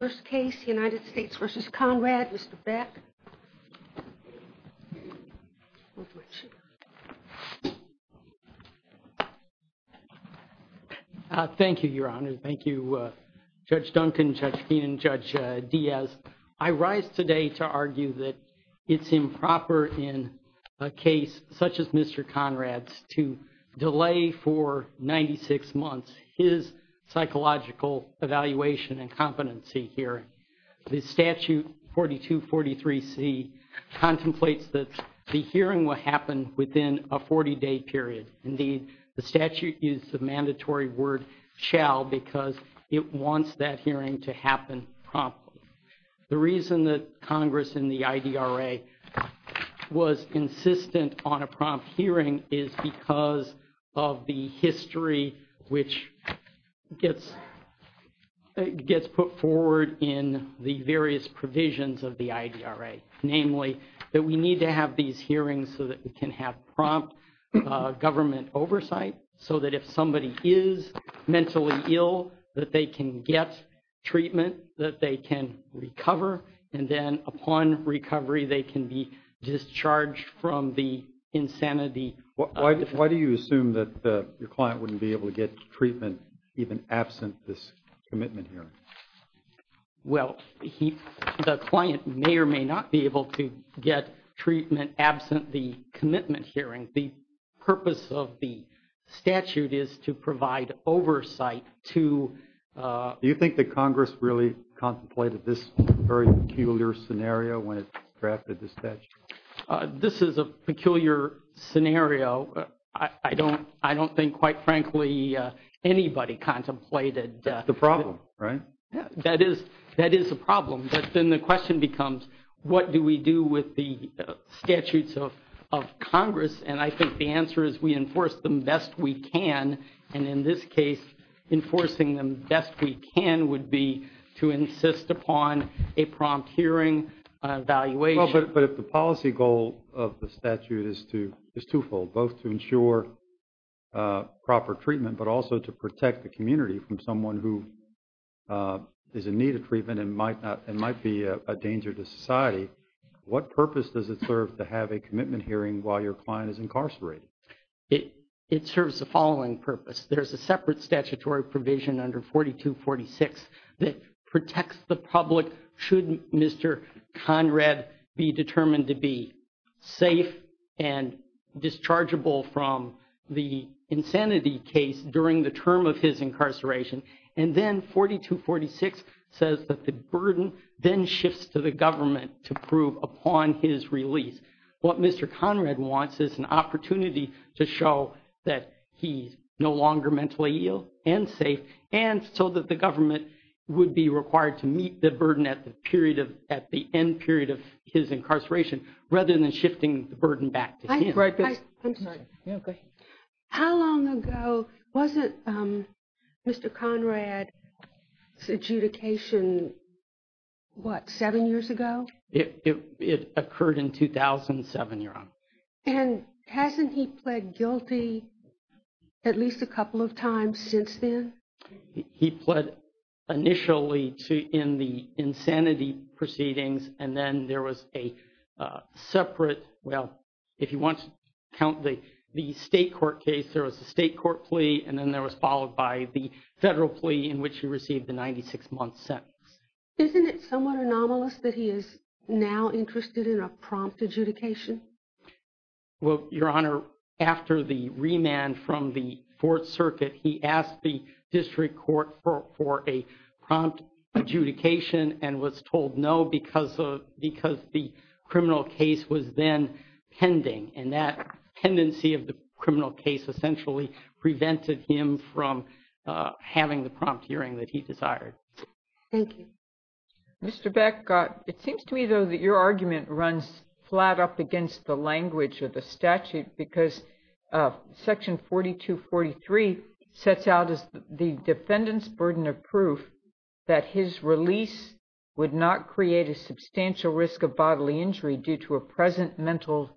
First case, United States v. Conrad, Mr. Beck. Thank you, Your Honor. Thank you, Judge Duncan, Judge Keenan, Judge Diaz. I rise today to argue that it's improper in a case such as Mr. Conrad's to delay for 96 months his psychological evaluation incompetency hearing. The statute 4243C contemplates that the hearing will happen within a 40-day period. Indeed, the statute used the mandatory word shall because it wants that hearing to happen promptly. The reason that Congress in the IDRA was insistent on a prompt hearing is because of the history which gets put forward in the various provisions of the IDRA. Namely, that we need to have these hearings so that we can have prompt government oversight, so that if somebody is mentally ill, that they can get treatment, that they can recover, and then upon recovery, they can be discharged from the insanity. Why do you assume that the client wouldn't be able to get treatment even absent this commitment hearing? Well, the client may or may not be able to get treatment absent the commitment hearing. The purpose of the statute is to provide oversight to... Do you think that Congress really contemplated this very peculiar scenario when it drafted the statute? This is a peculiar scenario. I don't think, quite frankly, anybody contemplated... The problem, right? That is the problem. But then the question becomes, what do we do with the statutes of Congress? And I think the answer is we enforce them best we can. And in this case, enforcing them best we can would be to insist upon a prompt hearing, an evaluation. But if the policy goal of the statute is twofold, both to ensure proper treatment, but also to protect the community from someone who is in need of treatment and might be a danger to incarcerated. It serves the following purpose. There's a separate statutory provision under 4246 that protects the public should Mr. Conrad be determined to be safe and dischargeable from the insanity case during the term of his incarceration. And then 4246 says that the burden then shifts to the government to prove upon his release. What Mr. Conrad wants is an opportunity to show that he's no longer mentally ill and safe. And so that the government would be required to meet the burden at the end period of his incarceration, rather than shifting the burden back to him. I'm sorry. Go ahead. How long ago? Wasn't Mr. Conrad's adjudication, what, seven years ago? It occurred in 2007, Your Honor. And hasn't he pled guilty at least a couple of times since then? He pled initially in the insanity proceedings, and then there was a separate, well, if you want to count the state court case, there was a state court plea, and then there was followed by the federal plea in which he received the 96-month sentence. Isn't it somewhat anomalous that he is now interested in a prompt adjudication? Well, Your Honor, after the remand from the Fourth Circuit, he asked the district court for a prompt adjudication and was told no because the criminal case was then pending. And that tendency of the criminal case essentially prevented him from having the prompt hearing that he desired. Thank you. Mr. Beck, it seems to me, though, that your argument runs flat up against the language of the statute because Section 4243 sets out as the defendant's burden of proof that his release would not create a substantial risk of bodily injury due to a present mental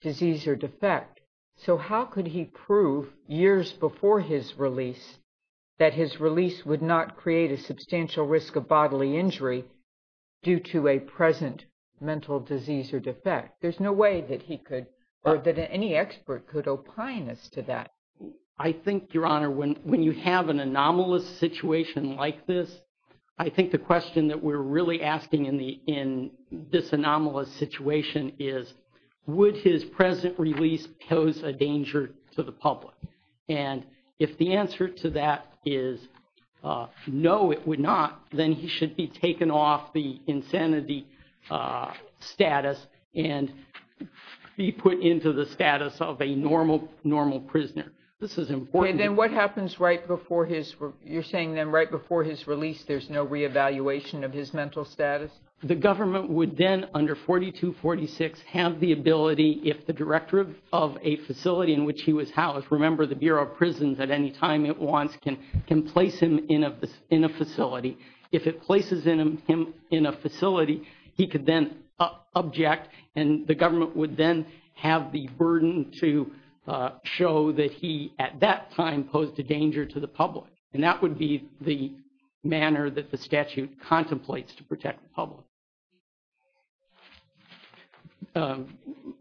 disease or defect. So how could he prove years before his release that his release would not create a substantial risk of bodily injury due to a present mental disease or defect? There's no way that he could or that any expert could opine as to that. I think, Your Honor, when you have an anomalous situation like this, I think the question that we're really asking in this anomalous situation is would his present release pose a danger to the public? And if the answer to that is no, it would not, then he should be taken off the insanity status and be put into the status of a normal, normal prisoner. This is important. And then what happens right before his, you're saying then right before his release, there's no reevaluation of his mental status? The government would then, under 4246, have the ability if the director of a facility in which he was housed, remember the Bureau of Prisons at any time it wants, can place him in a facility. If it places him in a facility, he could then object and the government would then have the burden to show that he at that time posed a danger to the public. And that would be the manner that the statute contemplates to protect the public.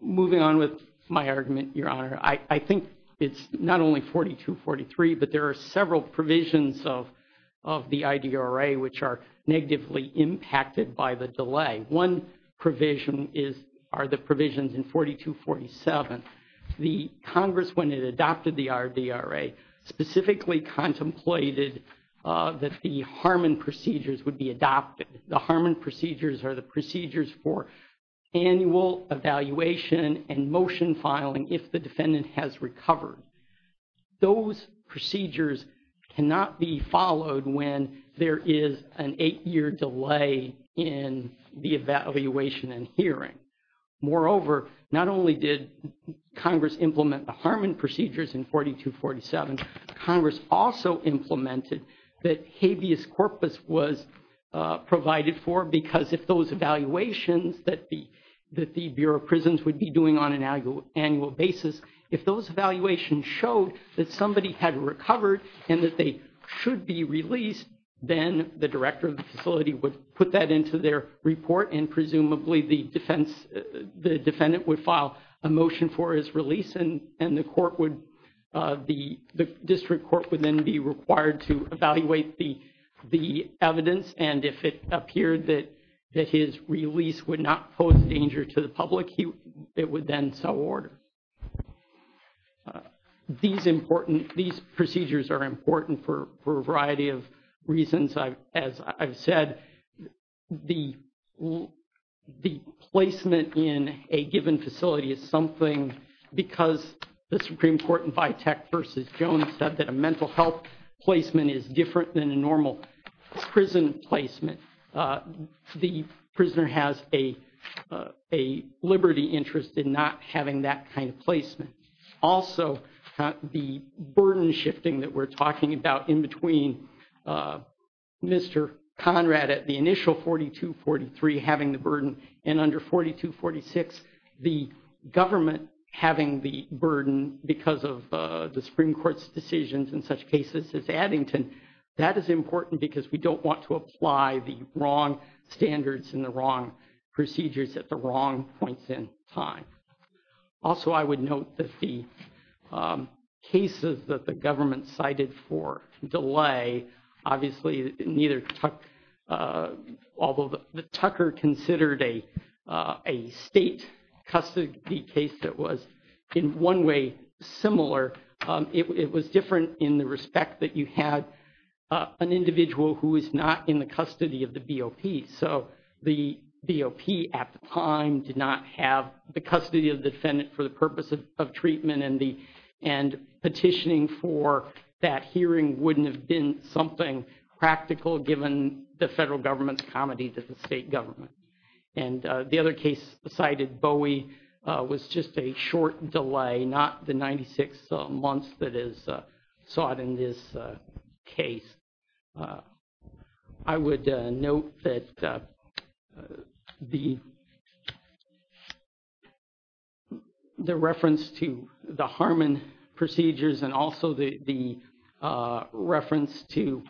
Moving on with my argument, Your Honor, I think it's not only 4243, but there are several provisions of the IDRA which are negatively impacted by the delay. One provision is, are the provisions in 4247. The Congress, when it adopted the RDRA, specifically contemplated that the Harmon procedures would be adopted. The Harmon procedures are the procedures for annual evaluation and motion filing if the defendant has recovered. Those procedures cannot be followed when there is an eight-year delay in the evaluation and hearing. Moreover, not only did Congress implement the Harmon procedures in 4247, Congress also implemented that habeas corpus was provided for because if those evaluations that the Bureau of Prisons would be doing on an annual basis, if those evaluations showed that somebody had recovered and that they should be released, then the director of the facility would put that into their report and presumably the defense, the defendant would file a motion for his release and the court would, the district court would then be required to evaluate the evidence and if it appeared that his release would not pose danger to the public, it would then sell order. These procedures are important for a variety of reasons. As I've said, the placement in a given facility is something because the Supreme Court in Vitek versus Jones said that a mental health placement is different than a normal prison placement. The prisoner has a liberty interest in not having that kind of placement. Also, the burden shifting that we're the initial 4243 having the burden and under 4246 the government having the burden because of the Supreme Court's decisions in such cases as Addington, that is important because we don't want to apply the wrong standards and the wrong procedures at the wrong points in time. Also, I would note that the cases that the government cited for delay, obviously, neither, although the Tucker considered a state custody case that was in one way similar, it was different in the respect that you had an individual who is not in the custody of the BOP. So, the BOP at the time did not have the custody of the defendant for the purpose of treatment and petitioning for that hearing wouldn't have been something practical given the federal government's comedy to the state government. The other case cited, Bowie, was just a short delay, not the 96 months that is sought in this case. I would note that the reference to the Harmon procedures and also the reference to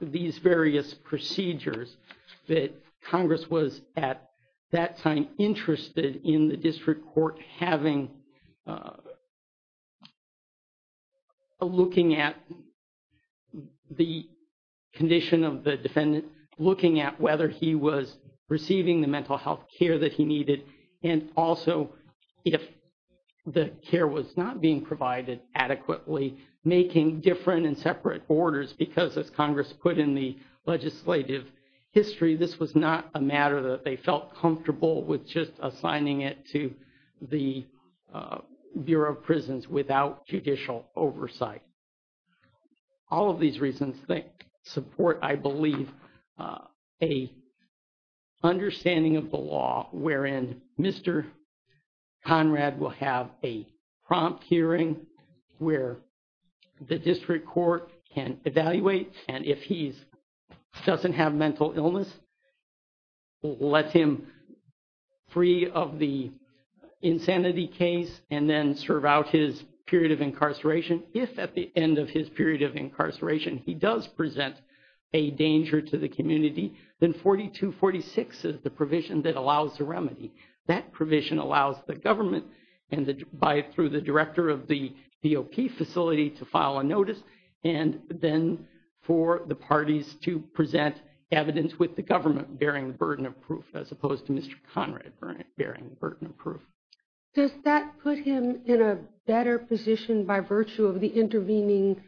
these various procedures that Congress was at that time interested in the district court having, looking at the condition of the defendant, looking at whether he was receiving the mental health care that he needed and also if the care was not being provided adequately, making different and Congress put in the legislative history, this was not a matter that they felt comfortable with just assigning it to the Bureau of Prisons without judicial oversight. All of these reasons that support, I believe, a understanding of the law wherein Mr. Conrad will have a prompt hearing where the district court can evaluate and if he doesn't have mental illness, let him free of the insanity case and then serve out his period of incarceration. If at the end of his period of incarceration, he does present a danger to the community, then 4246 is the provision that allows the remedy. That provision allows the government and through the director of the BOP facility to file a notice and then for the parties to present evidence with the government bearing the burden of proof as opposed to Mr. Conrad bearing the burden of proof. Does that put him in a better position by virtue of the intervening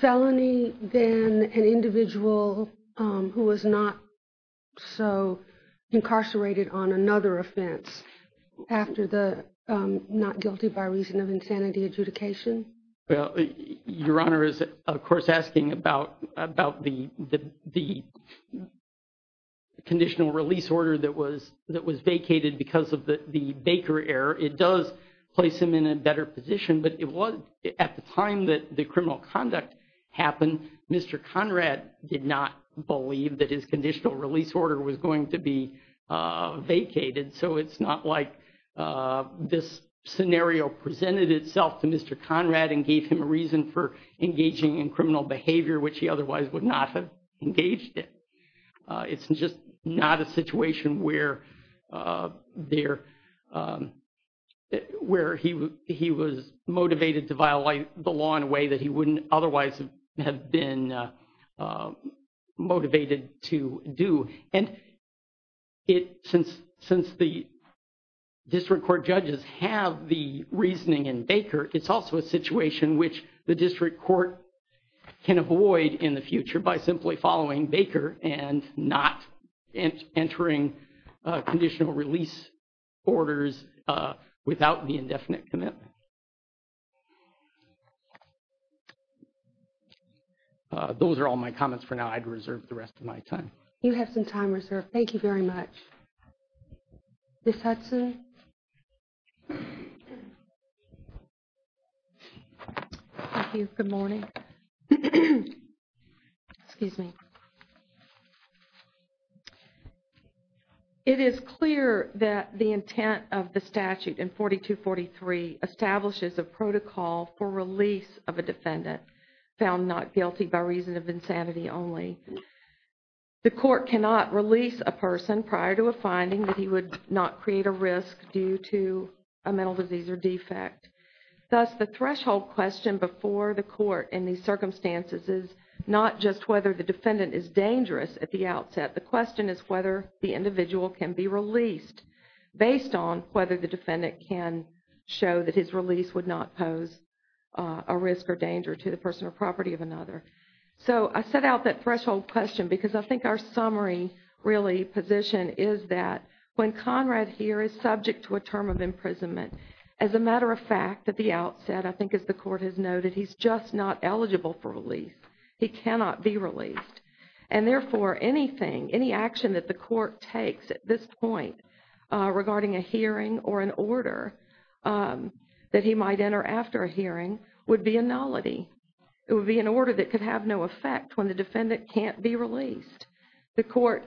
felony than an individual who was not so incarcerated on another offense after the not guilty by reason of insanity adjudication? Your Honor is, of course, asking about the conditional release order that was vacated because of the Baker error. It does place him in a better position, but it was at the time that the criminal conduct happened, Mr. Conrad did not believe that his conditional release order was going to be vacated, so it's not like this scenario presented itself to Mr. Conrad and gave him a reason for engaging in criminal behavior which he otherwise would not have engaged in. It's just not a situation where he was motivated to violate the law in a way that he wouldn't otherwise have been motivated to do. And since the district court judges have the reasoning in Baker, it's also a situation which the district court can avoid in the future by simply following Baker and not entering conditional release orders without the indefinite commitment. Those are all my comments for now. I'd reserve the rest of my time. You have some time reserved. Thank you very much. Ms. Hudson. Thank you. Good morning. Excuse me. It is clear that the intent of the statute in 4243 establishes a protocol for release of a defendant. The court cannot release a person prior to a finding that he would not create a risk due to a mental disease or defect. Thus, the threshold question before the court in these circumstances is not just whether the defendant is dangerous at the outset. The question is whether the individual can be released based on whether the defendant can show that his release would not pose a risk or danger to the personal property of another. So I set out that threshold question because I think our summary really position is that when Conrad here is subject to a term of imprisonment, as a matter of fact, at the outset, I think as the court has noted, he's just not eligible for release. He cannot be released. And therefore, anything, any action that the court takes at this point regarding a hearing or an order that he might enter after a hearing would be a nullity. It would be an order that could have no effect when the defendant can't be released. The court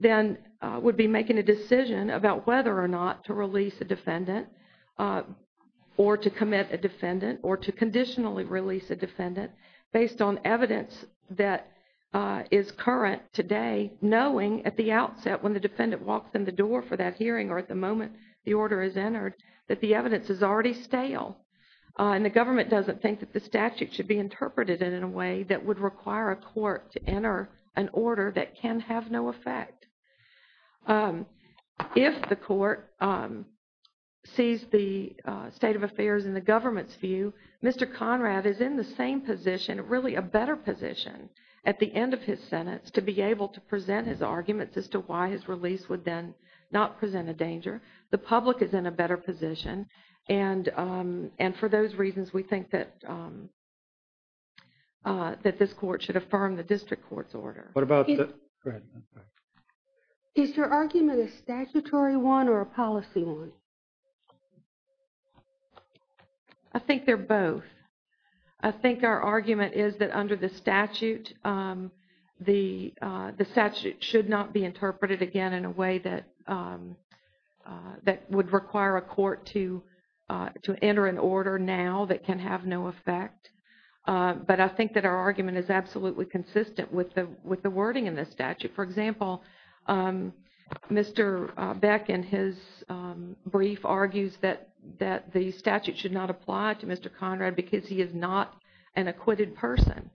then would be making a decision about whether or not to release a defendant or to commit a defendant or to conditionally release a defendant based on evidence that is current today, knowing at the outset when the defendant walks in the door for that hearing or the moment the order is entered, that the evidence is already stale. And the government doesn't think that the statute should be interpreted in a way that would require a court to enter an order that can have no effect. If the court sees the state of affairs in the government's view, Mr. Conrad is in the same position, really a better position, at the end of his sentence to be the public is in a better position. And for those reasons, we think that that this court should affirm the district court's order. What about the... Go ahead. Is your argument a statutory one or a policy one? I think they're both. I think our argument is that under the statute, the statute should not be interpreted again in a way that would require a court to enter an order now that can have no effect. But I think that our argument is absolutely consistent with the wording in the statute. For example, Mr. Beck, in his brief, argues that the statute should not apply to Mr. Conrad because he is not an acquitted person.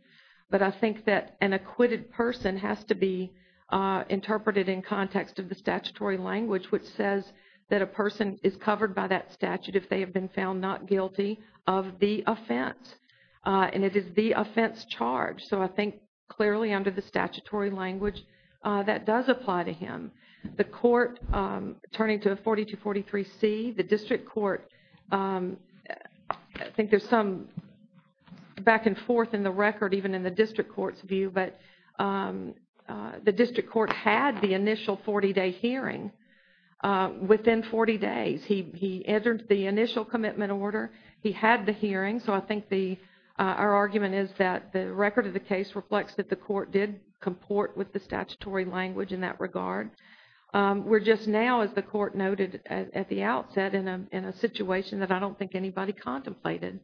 But I think that an acquitted person has to be interpreted in context of the statutory language, which says that a person is covered by that statute if they have been found not guilty of the offense. And it is the offense charge. So I think clearly under the statutory language, that does apply to him. The court, turning to 4243C, the district court, I think there's some back and forth in the record even in the district court's view, but the district court had the initial 40-day hearing within 40 days. He entered the initial commitment order. He had the hearing. So I think our argument is that the record of the case reflects that the court did comport with the statutory language in that regard. We're just now, as the court noted at the outset, in a situation that I don't think anybody contemplated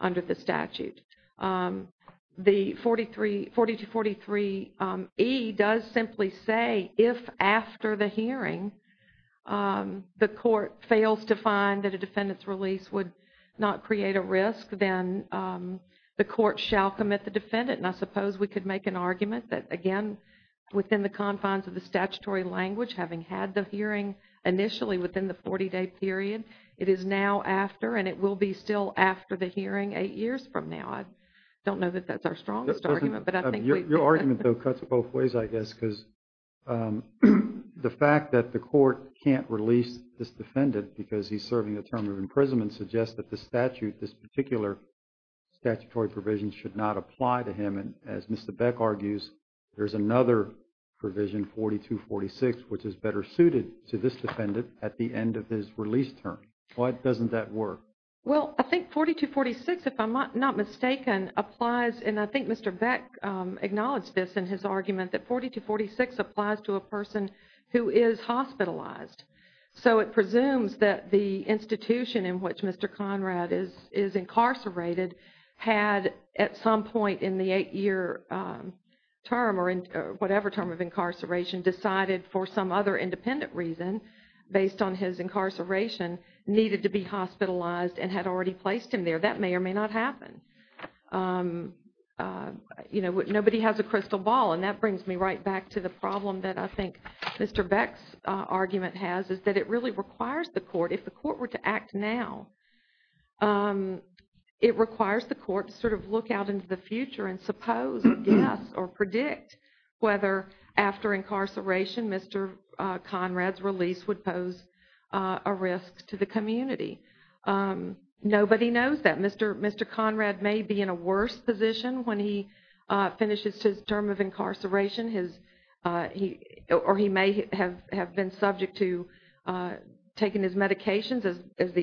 under the statute. The 4243E does simply say if after the hearing the court fails to find that a defendant's release would not create a risk, then the court shall commit the defendant. And I suppose we could make an argument that, again, within the confines of the statutory language, having had the hearing initially within the 40-day period, it is now after and it will be still after the hearing eight years from now. I don't know that that's our strongest argument, but I think we... Your argument though cuts both ways, I guess, because the fact that the court can't release this defendant because he's serving a term of imprisonment suggests that the statute, this particular statutory provision, should not apply to him. And as Mr. Beck argues, there's another provision, 4246, which is better suited to this defendant at the end of his release term. Why doesn't that work? Well, I think 4246, if I'm not mistaken, applies, and I think Mr. Beck acknowledged this in his argument, that 4246 applies to a person who is hospitalized. So it presumes that the institution in which Mr. Conrad is incarcerated had at some point in the eight-year term or whatever term of incarceration decided for some other independent reason based on his incarceration needed to be hospitalized and had already placed him there. That may or may not happen. You know, nobody has a crystal ball, and that brings me right back to the problem that I think Mr. Beck's argument has is that it really requires the court, if the court were to act now, it requires the court to sort of look out into the future and suppose, guess, or predict whether after incarceration Mr. Conrad's release would pose a risk to the community. Nobody knows that. Mr. Conrad may be in a worse position when he the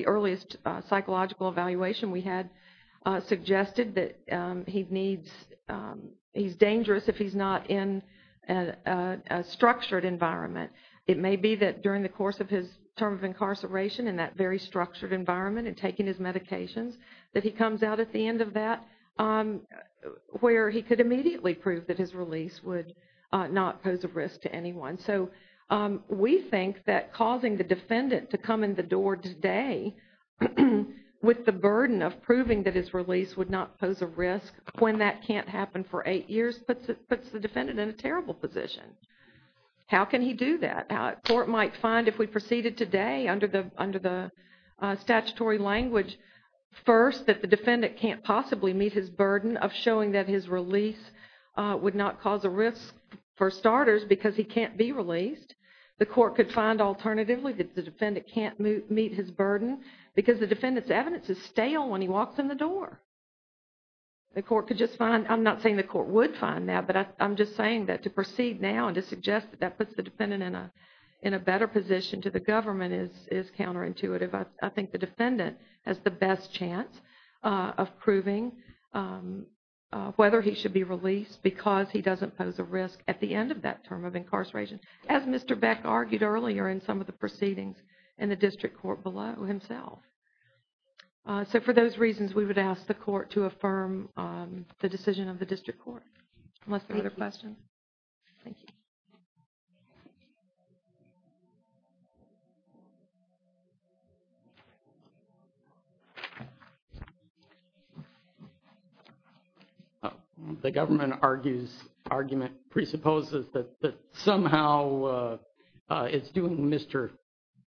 earliest psychological evaluation we had suggested that he needs, he's dangerous if he's not in a structured environment. It may be that during the course of his term of incarceration in that very structured environment and taking his medications that he comes out at the end of that where he could immediately prove that his release would not pose a risk to anyone. So we think that causing the defendant to come in the door today with the burden of proving that his release would not pose a risk when that can't happen for eight years puts the defendant in a terrible position. How can he do that? The court might find if we proceeded today under the statutory language first that the defendant can't possibly meet his burden of showing that his release would not cause a risk for starters because he can't be released. The court could find alternatively that the defendant can't meet his burden because the defendant's evidence is stale when he walks in the door. The court could just find, I'm not saying the court would find that, but I'm just saying that to proceed now and to suggest that that puts the defendant in a better position to the government is counterintuitive. I think the defendant has the best chance of proving whether he should be released because he doesn't pose a risk at the end of that term of incarceration, as Mr. Beck argued earlier in some of the proceedings in the district court below himself. So for those reasons, we would ask the court to affirm the decision of the district court. Unless there are other questions. Thank you. Thank you. The government argument presupposes that somehow it's doing Mr.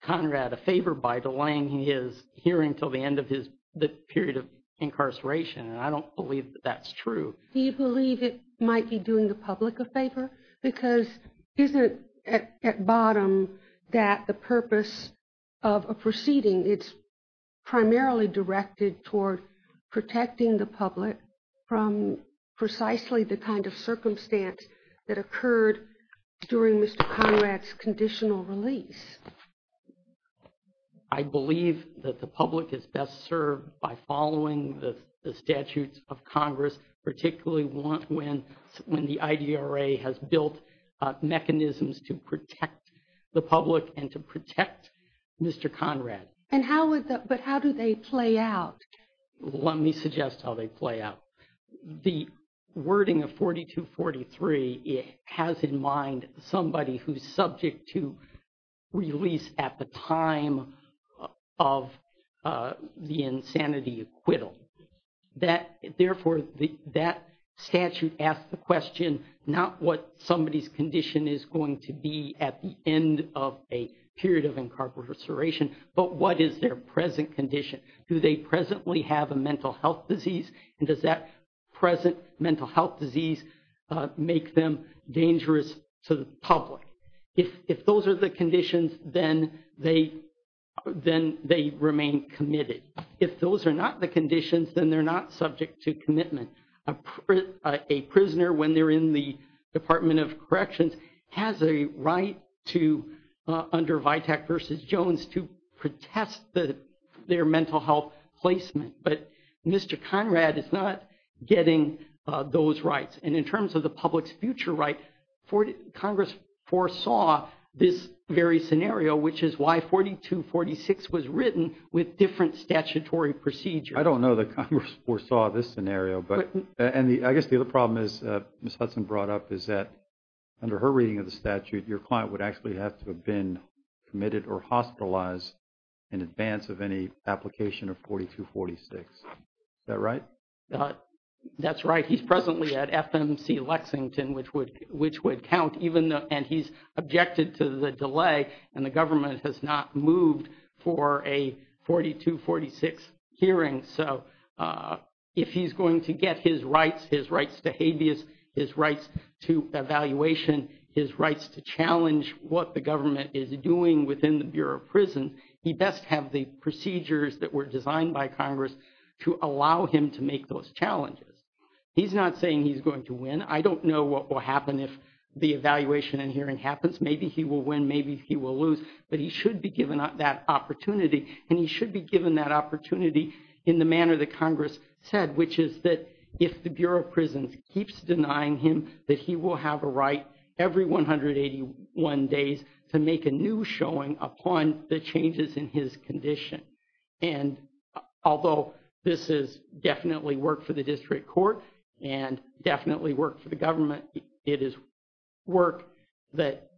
Conrad a favor by delaying his hearing until the end of the period of incarceration. And I don't believe that that's true. Do you believe it might be doing the public a favor? Because isn't at bottom that the purpose of a proceeding, it's primarily directed toward protecting the public from precisely the kind of circumstance that occurred during Mr. Conrad's conditional release. Yes. I believe that the public is best served by following the statutes of Congress, particularly when the IDRA has built mechanisms to protect the public and to protect Mr. Conrad. And how would that, but how do they play out? Let me suggest how they play out. The wording of 4243, it has in mind somebody who's subject to release at the time of the insanity acquittal. Therefore, that statute asks the question, not what somebody's condition is going to be at the end of a period of incarceration, but what is their present condition? Do they presently have a mental health disease? And does that present mental health disease make them dangerous to the public? If those are the conditions, then they remain committed. If those are not the conditions, then they're not subject to commitment. A prisoner, when they're in the Department of Corrections, has a right to, under VITAC versus Jones, to protest their mental health placement. But Mr. Conrad is not getting those rights. And in terms of the public's future right, Congress foresaw this very scenario, which is why 4246 was written with different statutory procedures. I don't know that Congress foresaw this scenario, but I guess the other problem is, Ms. Hudson brought up, is that under her reading of the statute, your client would have to have been committed or hospitalized in advance of any application of 4246. Is that right? That's right. He's presently at FMC Lexington, which would count, and he's objected to the delay and the government has not moved for a 4246 hearing. So, if he's going to get his rights, his rights to habeas, his rights to evaluation, his rights to challenge what the government is doing within the Bureau of Prisons, he best have the procedures that were designed by Congress to allow him to make those challenges. He's not saying he's going to win. I don't know what will happen if the evaluation and hearing happens. Maybe he will win, maybe he will lose, but he should be given that opportunity. And he should be given that opportunity in the manner that Congress said, which is that if the Bureau of Prisons keeps denying him, that he will have a right every 181 days to make a new showing upon the changes in his condition. And although this is definitely work for the district court and definitely work for the government, it is work that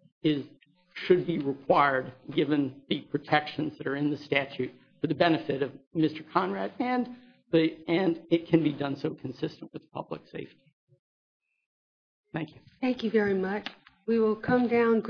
should be required given the protections that are in the statute for the benefit of Mr. Conrad, and it can be done so consistent with public safety. Thank you. Thank you very much. We will come down.